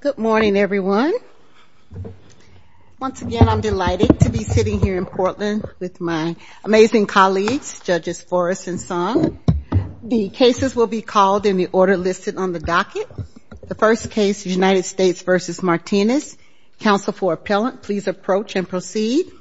Good morning everyone. Once again I'm delighted to be sitting here in Portland with my amazing colleagues, Judges Forrest and Song. The cases will be called in the order listed on the docket. The first case is United States v. Martinez. Counsel for Appellant, please approach and proceed.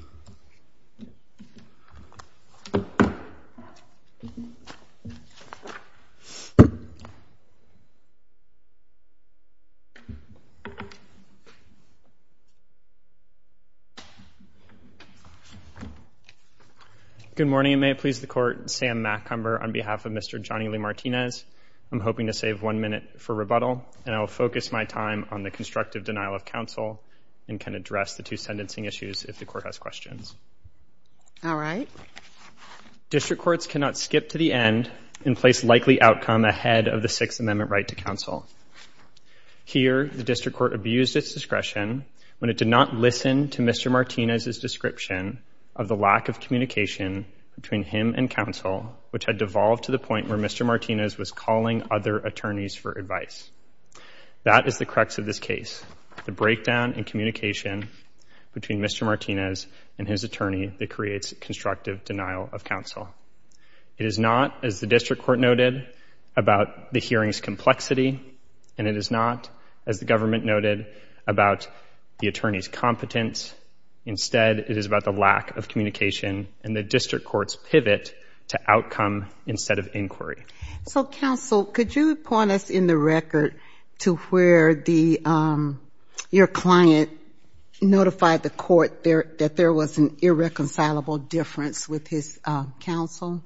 Good morning and may it please the Court. Sam Macumber on behalf of Mr. Johnny Lee Martinez. I'm hoping to save one minute for rebuttal and I'll focus my time on the constructive denial of counsel and can address the two sentencing issues if the Court has questions. All right. District courts cannot skip to the end and place likely outcome ahead of the Sixth Amendment right to counsel. Here the district court abused its discretion when it did not listen to Mr. Martinez's description of the lack of communication between him and counsel, which had devolved to the point where Mr. Martinez was calling other attorneys for advice. That is the crux of this case. The breakdown in communication between Mr. Martinez and his attorney that creates constructive denial of counsel. It is not, as the district court noted, about the hearing's complexity and it is not, as the government noted, about the attorney's competence. Instead, it is about the lack of communication and the district court's pivot to outcome instead of inquiry. So, counsel, could you point us in the record to where your client notified the court that there was an irreconcilable difference with his counsel?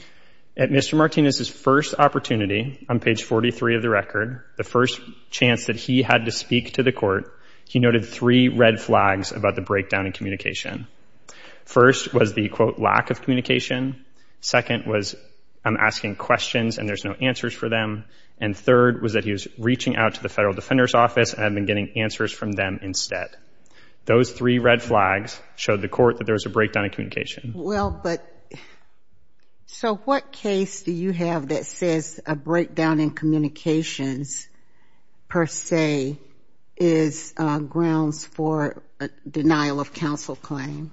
At Mr. Martinez's first opportunity on page 43 of the record, the first chance that he had to speak to the court, he noted three red flags about the breakdown in communication. First was the, quote, lack of communication. Second was, I'm asking questions and there's no answers for them. And third was that he was reaching out to the Federal Defender's Office and had been getting answers from them instead. Those three red flags showed the court that there was a breakdown in communication. Well, but so what case do you have that says a breakdown in communications per se is grounds for a denial of counsel claim?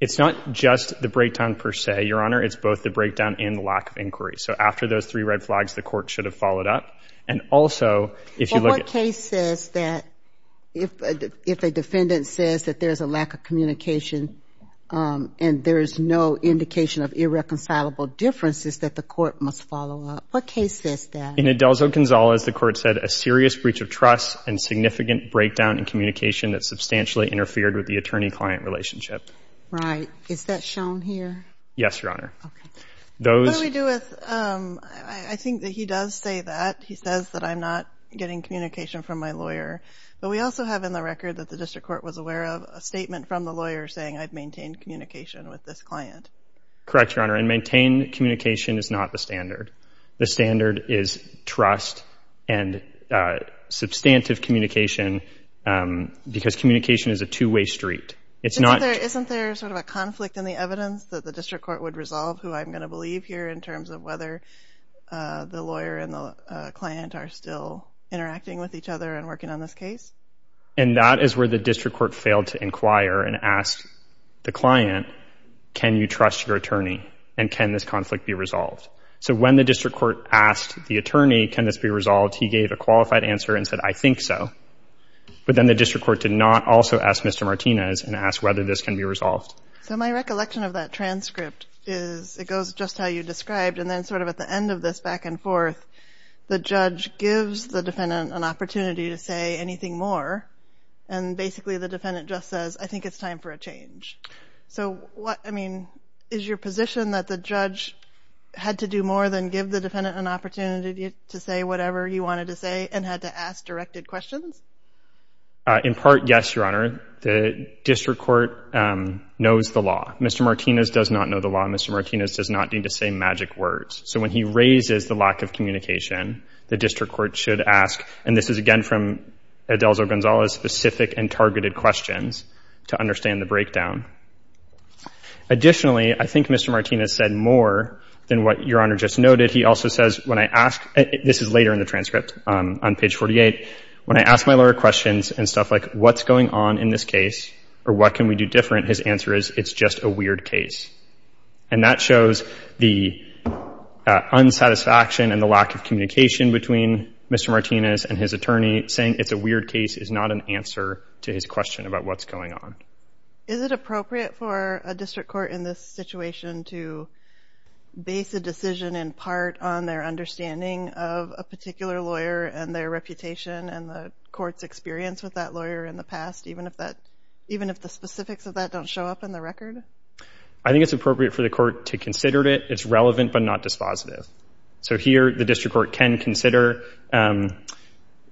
It's not just the breakdown per se, Your Honor. It's both the breakdown and the lack of inquiry. So after those three red flags, the court should have followed up. Well, what case says that if a defendant says that there's a lack of communication and there's no indication of irreconcilable differences that the court must follow up? What case says that? In Adelzo-Gonzalez, the court said a serious breach of trust and significant breakdown in communication that substantially interfered with the attorney-client relationship. Right. Is that shown here? Yes, Your Honor. Okay. What do we do with, I think that he does say that. He says that I'm not getting communication from my lawyer. But we also have in the record that the district court was aware of a statement from the lawyer saying I've maintained communication with this client. Correct, Your Honor. And maintained communication is not the standard. The standard is trust and substantive communication because communication is a two-way street. Isn't there sort of a conflict in the evidence that the district court would resolve who I'm going to believe here in terms of whether the lawyer and the client are still interacting with each other and working on this case? And that is where the district court failed to inquire and ask the client, can you trust your attorney? And can this conflict be resolved? So when the district court asked the attorney, can this be resolved, he gave a qualified answer and said, I think so. But then the district court did not also ask Mr. Martinez and ask whether this can be resolved. So my recollection of that transcript is it goes just how you described, and then sort of at the end of this back and forth, the judge gives the defendant an opportunity to say anything more. And basically the defendant just says, I think it's time for a change. So what, I mean, is your position that the judge had to do more than give the defendant an opportunity to say whatever you wanted to say and had to ask directed questions? In part, yes, Your Honor. The district court knows the law. Mr. Martinez does not know the law. Mr. Martinez does not need to say magic words. So when he raises the lack of communication, the district court should ask, and this is again from Adelzo Gonzalez, specific and targeted questions to understand the breakdown. Additionally, I think Mr. Martinez said more than what Your Honor just noted. He also says, when I ask, this is later in the transcript on page 48, when I ask my lawyer questions and stuff like what's going on in this case or what can we do different, his answer is it's just a weird case. And that shows the unsatisfaction and the lack of communication between Mr. Martinez and his attorney saying it's a weird case is not an answer to his question about what's going on. Is it appropriate for a district court in this situation to base a decision in part on their understanding of a particular lawyer and their reputation and the court's experience with that lawyer in the past, even if the specifics of that don't show up in the record? I think it's appropriate for the court to consider it. It's relevant but not dispositive. So here the district court can consider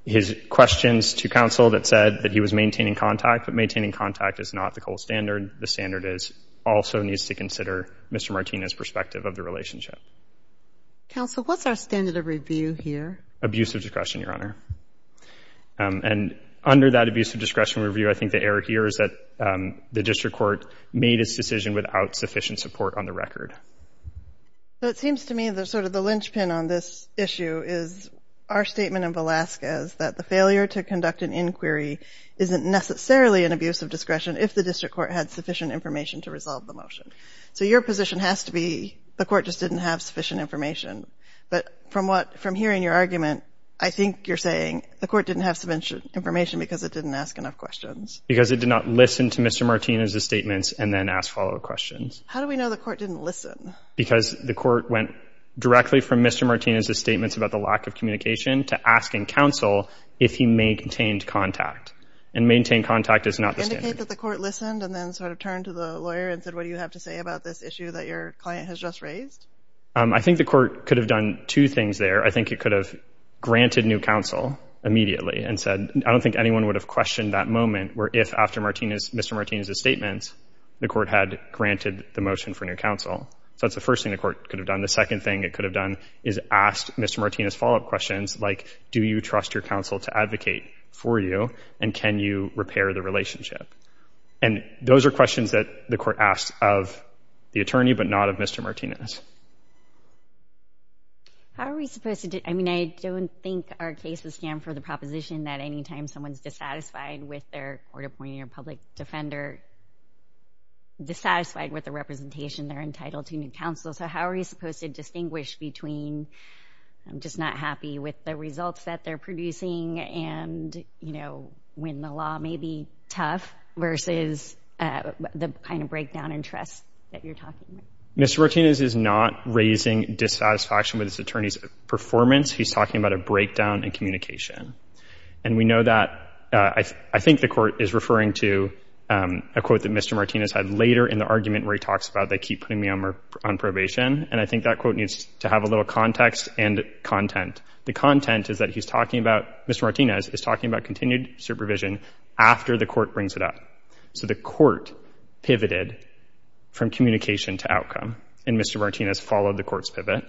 his questions to counsel that said that he was maintaining contact, but maintaining contact is not the gold standard. The standard also needs to consider Mr. Martinez' perspective of the relationship. Counsel, what's our standard of review here? Abusive discretion, Your Honor. And under that abusive discretion review, I think the error here is that the district court made its decision without sufficient support on the record. So it seems to me that sort of the linchpin on this issue is our statement in Velazquez that the failure to conduct an inquiry isn't necessarily an abusive discretion if the district court had sufficient information to resolve the motion. So your position has to be the court just didn't have sufficient information. But from hearing your argument, I think you're saying the court didn't have sufficient information because it didn't ask enough questions. Because it did not listen to Mr. Martinez' statements and then ask follow-up questions. How do we know the court didn't listen? Because the court went directly from Mr. Martinez' statements about the lack of communication to asking counsel if he maintained contact. And maintained contact is not the standard. Indicate that the court listened and then sort of turned to the lawyer and said, what do you have to say about this issue that your client has just raised? I think the court could have done two things there. I think it could have granted new counsel immediately and said, I don't think anyone would have questioned that moment where if after Mr. Martinez' statements, the court had granted the motion for new counsel. So that's the first thing the court could have done. The second thing it could have done is asked Mr. Martinez' follow-up questions like, do you trust your counsel to advocate for you and can you repair the relationship? And those are questions that the court asked of the attorney but not of Mr. Martinez. How are we supposed to do it? I mean, I don't think our case would stand for the proposition that anytime someone's dissatisfied with their court appointing a public defender, dissatisfied with the representation, they're entitled to new counsel. So how are we supposed to distinguish between just not happy with the results that they're producing and when the law may be tough versus the kind of breakdown in trust that you're talking about? Mr. Martinez is not raising dissatisfaction with his attorney's performance. He's talking about a breakdown in communication. And we know that. I think the court is referring to a quote that Mr. Martinez had later in the argument where he talks about they keep putting me on probation. And I think that quote needs to have a little context and content. The content is that he's talking about, Mr. Martinez is talking about continued supervision after the court brings it up. So the court pivoted from communication to outcome and Mr. Martinez followed the court's pivot.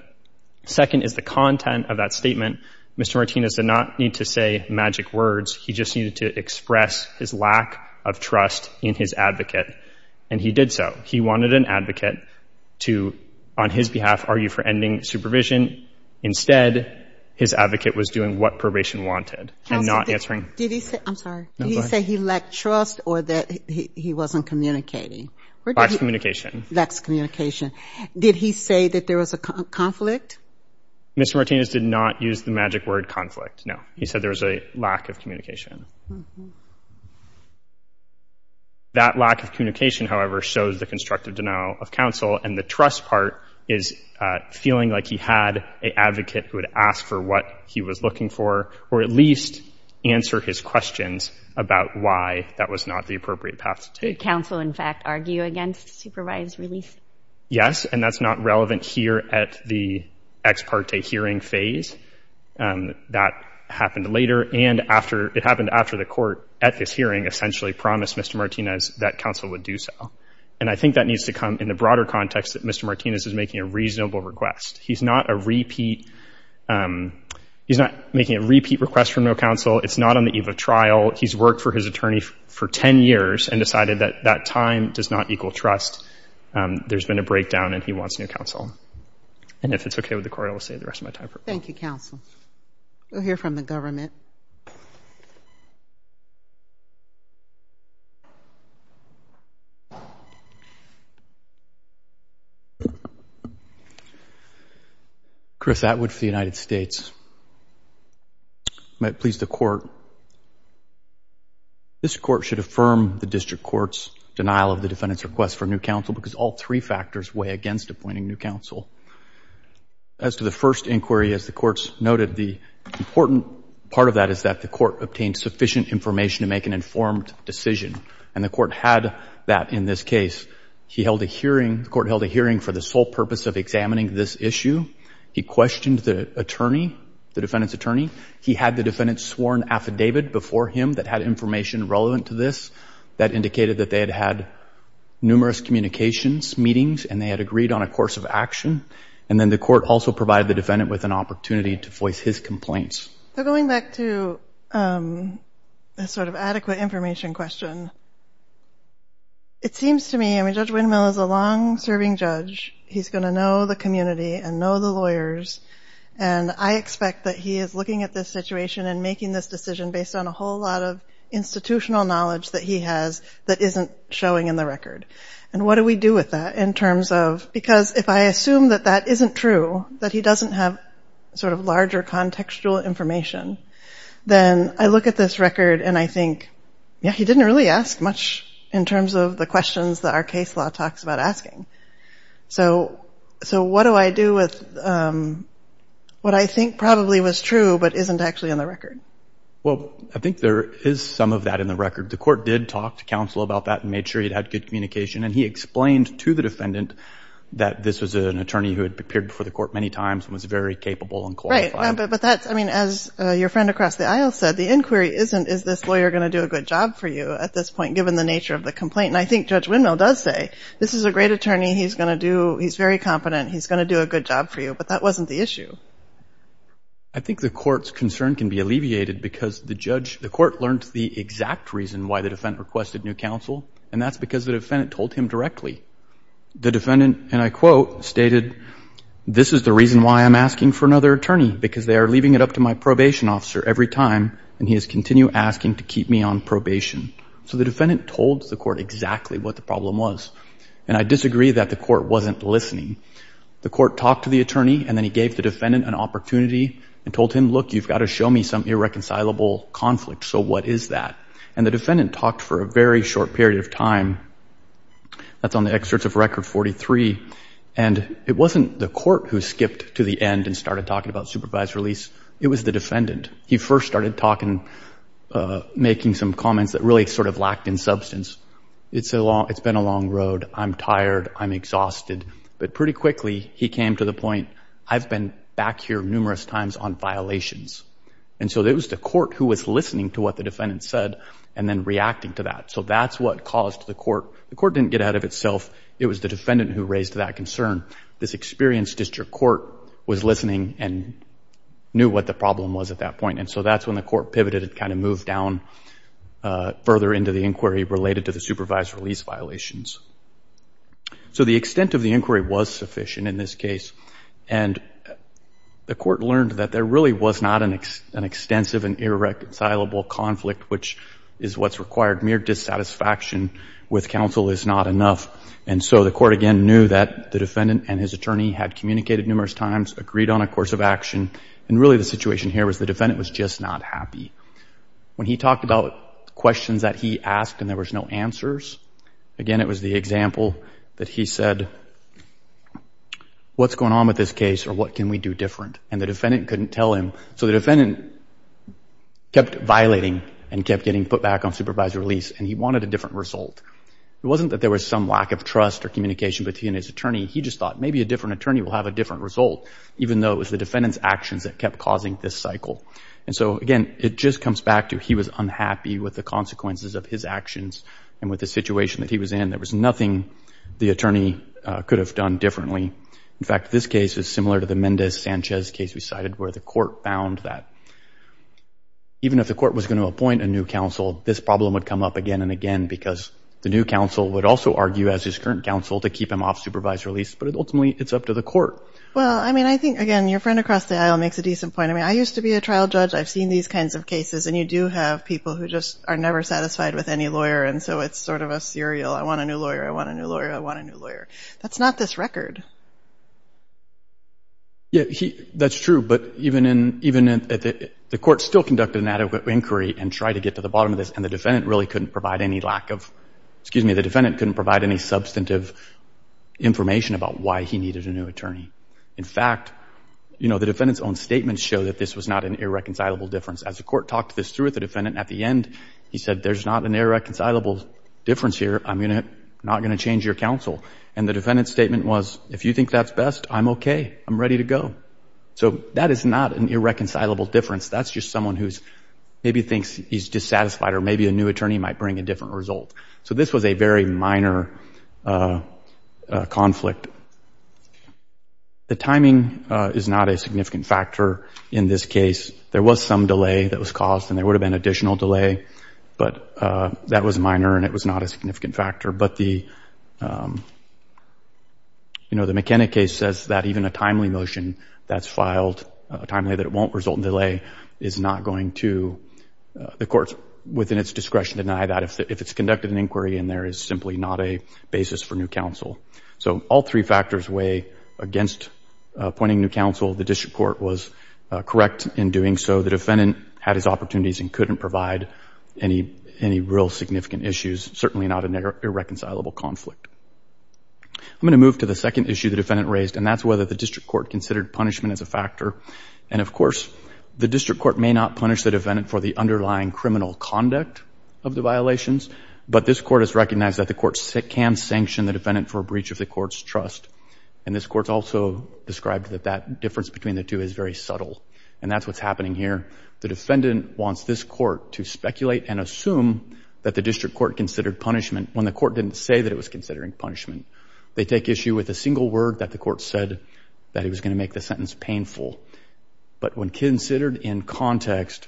Second is the content of that statement. Mr. Martinez did not need to say magic words. He just needed to express his lack of trust in his advocate. And he did so. He wanted an advocate to, on his behalf, argue for ending supervision. Instead, his advocate was doing what probation wanted and not answering. Did he say he lacked trust or that he wasn't communicating? Lacks communication. Lacks communication. Did he say that there was a conflict? Mr. Martinez did not use the magic word conflict, no. He said there was a lack of communication. That lack of communication, however, shows the constructive denial of counsel and the trust part is feeling like he had an advocate who would ask for what he was looking for or at least answer his questions about why that was not the appropriate path to take. Did counsel, in fact, argue against supervised release? Yes, and that's not relevant here at the ex parte hearing phase. That happened later and it happened after the court, at this hearing, essentially promised Mr. Martinez that counsel would do so. And I think that needs to come in the broader context that Mr. Martinez is making a reasonable request. He's not a repeat, he's not making a repeat request for no counsel. It's not on the eve of trial. He's worked for his attorney for 10 years and decided that that time does not equal trust. There's been a breakdown and he wants new counsel. And if it's okay with the court, I will stay the rest of my time. Thank you, counsel. We'll hear from the government. Chris Atwood for the United States. I might please the court. This court should affirm the district court's denial of the defendant's request for new counsel because all three factors weigh against appointing new counsel. As to the first inquiry, as the court's noted, part of that is that the court obtained sufficient information to make an informed decision. And the court had that in this case. He held a hearing, the court held a hearing for the sole purpose of examining this issue. He questioned the attorney, the defendant's attorney. He had the defendant's sworn affidavit before him that had information relevant to this that indicated that they had had numerous communications, meetings, and they had agreed on a course of action. And then the court also provided the defendant with an opportunity to voice his complaints. So going back to the sort of adequate information question, it seems to me, I mean, Judge Windmill is a long-serving judge. He's going to know the community and know the lawyers. And I expect that he is looking at this situation and making this decision based on a whole lot of institutional knowledge that he has that isn't showing in the record. And what do we do with that in terms of – because if I assume that that isn't true, that he doesn't have sort of larger contextual information, then I look at this record and I think, yeah, he didn't really ask much in terms of the questions that our case law talks about asking. So what do I do with what I think probably was true but isn't actually in the record? Well, I think there is some of that in the record. The court did talk to counsel about that and made sure he had good communication. And he explained to the defendant that this was an attorney who had appeared before the court many times and was very capable and qualified. Right. But that's – I mean, as your friend across the aisle said, the inquiry isn't, is this lawyer going to do a good job for you at this point given the nature of the complaint? And I think Judge Windmill does say, this is a great attorney. He's going to do – he's very competent. He's going to do a good job for you. But that wasn't the issue. I think the court's concern can be alleviated because the judge – the court learned the exact reason why the defendant requested new counsel, and that's because the defendant told him directly. The defendant, and I quote, stated, this is the reason why I'm asking for another attorney, because they are leaving it up to my probation officer every time, and he has continued asking to keep me on probation. So the defendant told the court exactly what the problem was. And I disagree that the court wasn't listening. The court talked to the attorney, and then he gave the defendant an opportunity and told him, look, you've got to show me some irreconcilable conflict, so what is that? And the defendant talked for a very short period of time. That's on the excerpts of Record 43. And it wasn't the court who skipped to the end and started talking about supervised release. It was the defendant. He first started talking – making some comments that really sort of lacked in substance. It's been a long road. I'm tired. I'm exhausted. But pretty quickly, he came to the point, I've been back here numerous times on violations. And so it was the court who was listening to what the defendant said and then reacting to that. So that's what caused the court – the court didn't get out of itself. It was the defendant who raised that concern. This experienced district court was listening and knew what the problem was at that point. And so that's when the court pivoted and kind of moved down further into the inquiry related to the supervised release violations. So the extent of the inquiry was sufficient in this case. And the court learned that there really was not an extensive and irreconcilable conflict, which is what's required. Mere dissatisfaction with counsel is not enough. And so the court, again, knew that the defendant and his attorney had communicated numerous times, agreed on a course of action. And really the situation here was the defendant was just not happy. When he talked about questions that he asked and there was no answers, again, it was the example that he said, what's going on with this case or what can we do different? And the defendant couldn't tell him. So the defendant kept violating and kept getting put back on supervised release and he wanted a different result. It wasn't that there was some lack of trust or communication between his attorney. He just thought maybe a different attorney will have a different result, even though it was the defendant's actions that kept causing this cycle. And so, again, it just comes back to he was unhappy with the consequences of his actions and with the situation that he was in, there was nothing the attorney could have done differently. In fact, this case is similar to the Mendez-Sanchez case we cited where the court found that even if the court was going to appoint a new counsel, this problem would come up again and again because the new counsel would also argue as his current counsel to keep him off supervised release. But ultimately, it's up to the court. Well, I mean, I think, again, your friend across the aisle makes a decent point. I mean, I used to be a trial judge. I've seen these kinds of cases. And you do have people who just are never satisfied with any lawyer. And so it's sort of a serial, I want a new lawyer, I want a new lawyer, I want a new lawyer. That's not this record. Yeah, that's true. But even the court still conducted an adequate inquiry and tried to get to the bottom of this, and the defendant really couldn't provide any lack of—excuse me, the defendant couldn't provide any substantive information about why he needed a new attorney. In fact, you know, the defendant's own statements show that this was not an irreconcilable difference. As the court talked this through with the defendant at the end, he said, there's not an irreconcilable difference here. I'm not going to change your counsel. And the defendant's statement was, if you think that's best, I'm okay. I'm ready to go. So that is not an irreconcilable difference. That's just someone who maybe thinks he's dissatisfied or maybe a new attorney might bring a different result. So this was a very minor conflict. The timing is not a significant factor in this case. There was some delay that was caused, and there would have been additional delay, but that was minor and it was not a significant factor. But the McKenna case says that even a timely motion that's filed, a timely that it won't result in delay, is not going to—the courts within its discretion deny that if it's conducted an inquiry and there is simply not a basis for new counsel. So all three factors weigh against appointing new counsel. The district court was correct in doing so. The defendant had his opportunities and couldn't provide any real significant issues, certainly not an irreconcilable conflict. I'm going to move to the second issue the defendant raised, and that's whether the district court considered punishment as a factor. And, of course, the district court may not punish the defendant for the underlying criminal conduct of the violations, but this court has recognized that the court can sanction the defendant for a breach of the court's trust. And this court's also described that that difference between the two is very subtle. And that's what's happening here. The defendant wants this court to speculate and assume that the district court considered punishment when the court didn't say that it was considering punishment. They take issue with a single word that the court said that it was going to make the sentence painful. But when considered in context,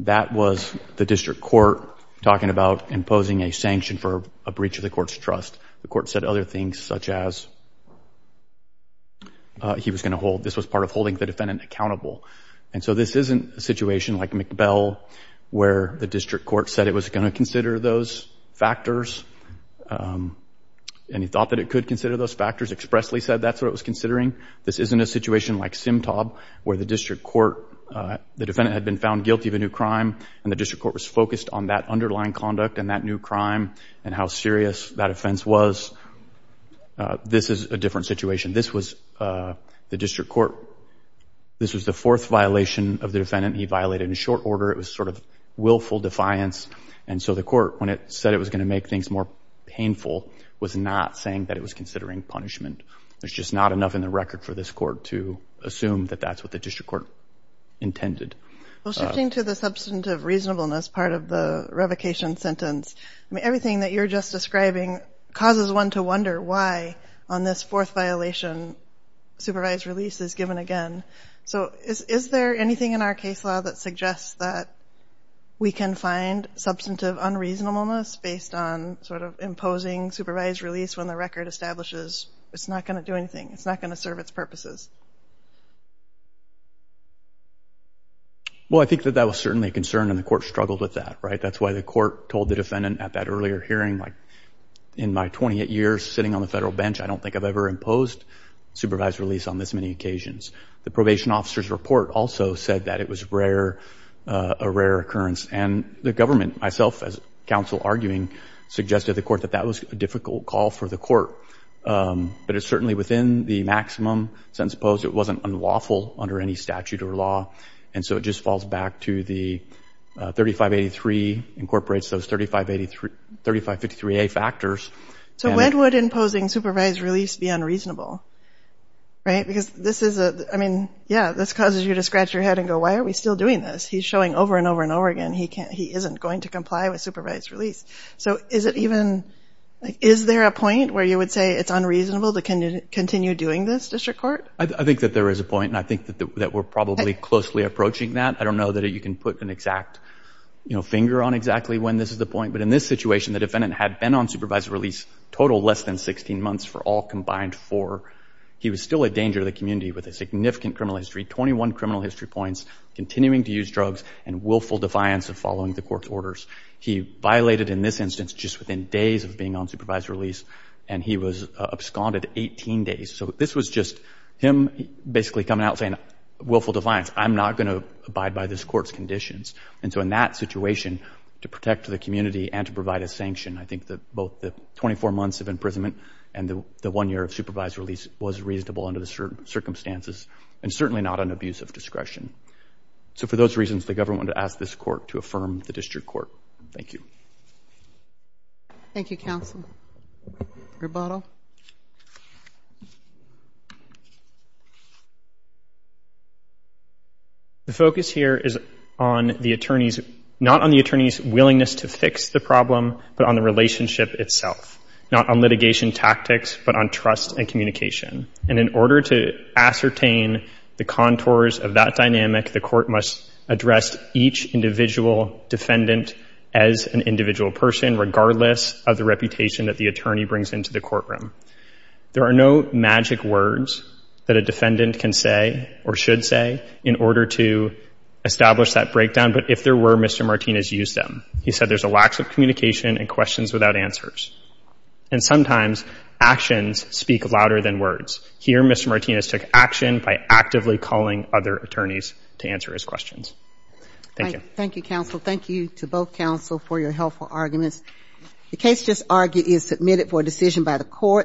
that was the district court talking about imposing a sanction for a breach of the court's trust. The court said other things such as he was going to hold, this was part of holding the defendant accountable. And so this isn't a situation like McBell where the district court said it was going to consider those factors and he thought that it could consider those factors, expressly said that's what it was considering. This isn't a situation like Simtob where the district court, the defendant had been found guilty of a new crime and the district court was focused on that underlying conduct and that new crime and how serious that offense was. This is a different situation. This was the district court, this was the fourth violation of the defendant. He violated in short order. It was sort of willful defiance. And so the court, when it said it was going to make things more painful, was not saying that it was considering punishment. There's just not enough in the record for this court to assume that that's what the district court intended. Well, shifting to the substantive reasonableness part of the revocation sentence, everything that you're just describing causes one to wonder why on this fourth violation supervised release is given again. So is there anything in our case law that suggests that we can find substantive unreasonableness based on sort of imposing supervised release when the record establishes it's not going to do anything, it's not going to serve its purposes? Well, I think that that was certainly a concern and the court struggled with that, right? That's why the court told the defendant at that earlier hearing, in my 28 years sitting on the federal bench, I don't think I've ever imposed supervised release on this many occasions. The probation officer's report also said that it was a rare occurrence. And the government, myself as counsel arguing, suggested to the court that that was a difficult call for the court. But it's certainly within the maximum sentence imposed. It wasn't unlawful under any statute or law. And so it just falls back to the 3583 incorporates those 3553A factors. So when would imposing supervised release be unreasonable, right? Because this is a, I mean, yeah, this causes you to scratch your head and go, why are we still doing this? He's showing over and over and over again he isn't going to comply with supervised release. So is it even, is there a point where you would say it's unreasonable to continue doing this, District Court? I think that there is a point. And I think that we're probably closely approaching that. I don't know that you can put an exact finger on exactly when this is the point. But in this situation, the defendant had been on supervised release total less than 16 months for all combined four. He was still a danger to the community with a significant criminal history, 21 criminal history points, continuing to use drugs and willful defiance of following the court's orders. He violated, in this instance, just within days of being on supervised release. And he was absconded 18 days. So this was just him basically coming out saying willful defiance. I'm not going to abide by this court's conditions. And so in that situation, to protect the community and to provide a sanction, I think that both the 24 months of imprisonment and the one year of supervised release was reasonable under the circumstances and certainly not an abuse of discretion. So for those reasons, the government wanted to ask this court to affirm the district court. Thank you. Thank you, counsel. Rebuttal. The focus here is on the attorney's, not on the attorney's willingness to fix the problem, but on the relationship itself. Not on litigation tactics, but on trust and communication. And in order to ascertain the contours of that dynamic, the court must address each individual defendant as an individual person, regardless of the reputation that the attorney brings into the courtroom. There are no magic words that a defendant can say or should say in order to establish that breakdown. But if there were, Mr. Martinez used them. He said there's a lack of communication and questions without answers. And sometimes actions speak louder than words. Here, Mr. Martinez took action by actively calling other attorneys to answer his questions. Thank you. Thank you, counsel. Thank you to both counsel for your helpful arguments.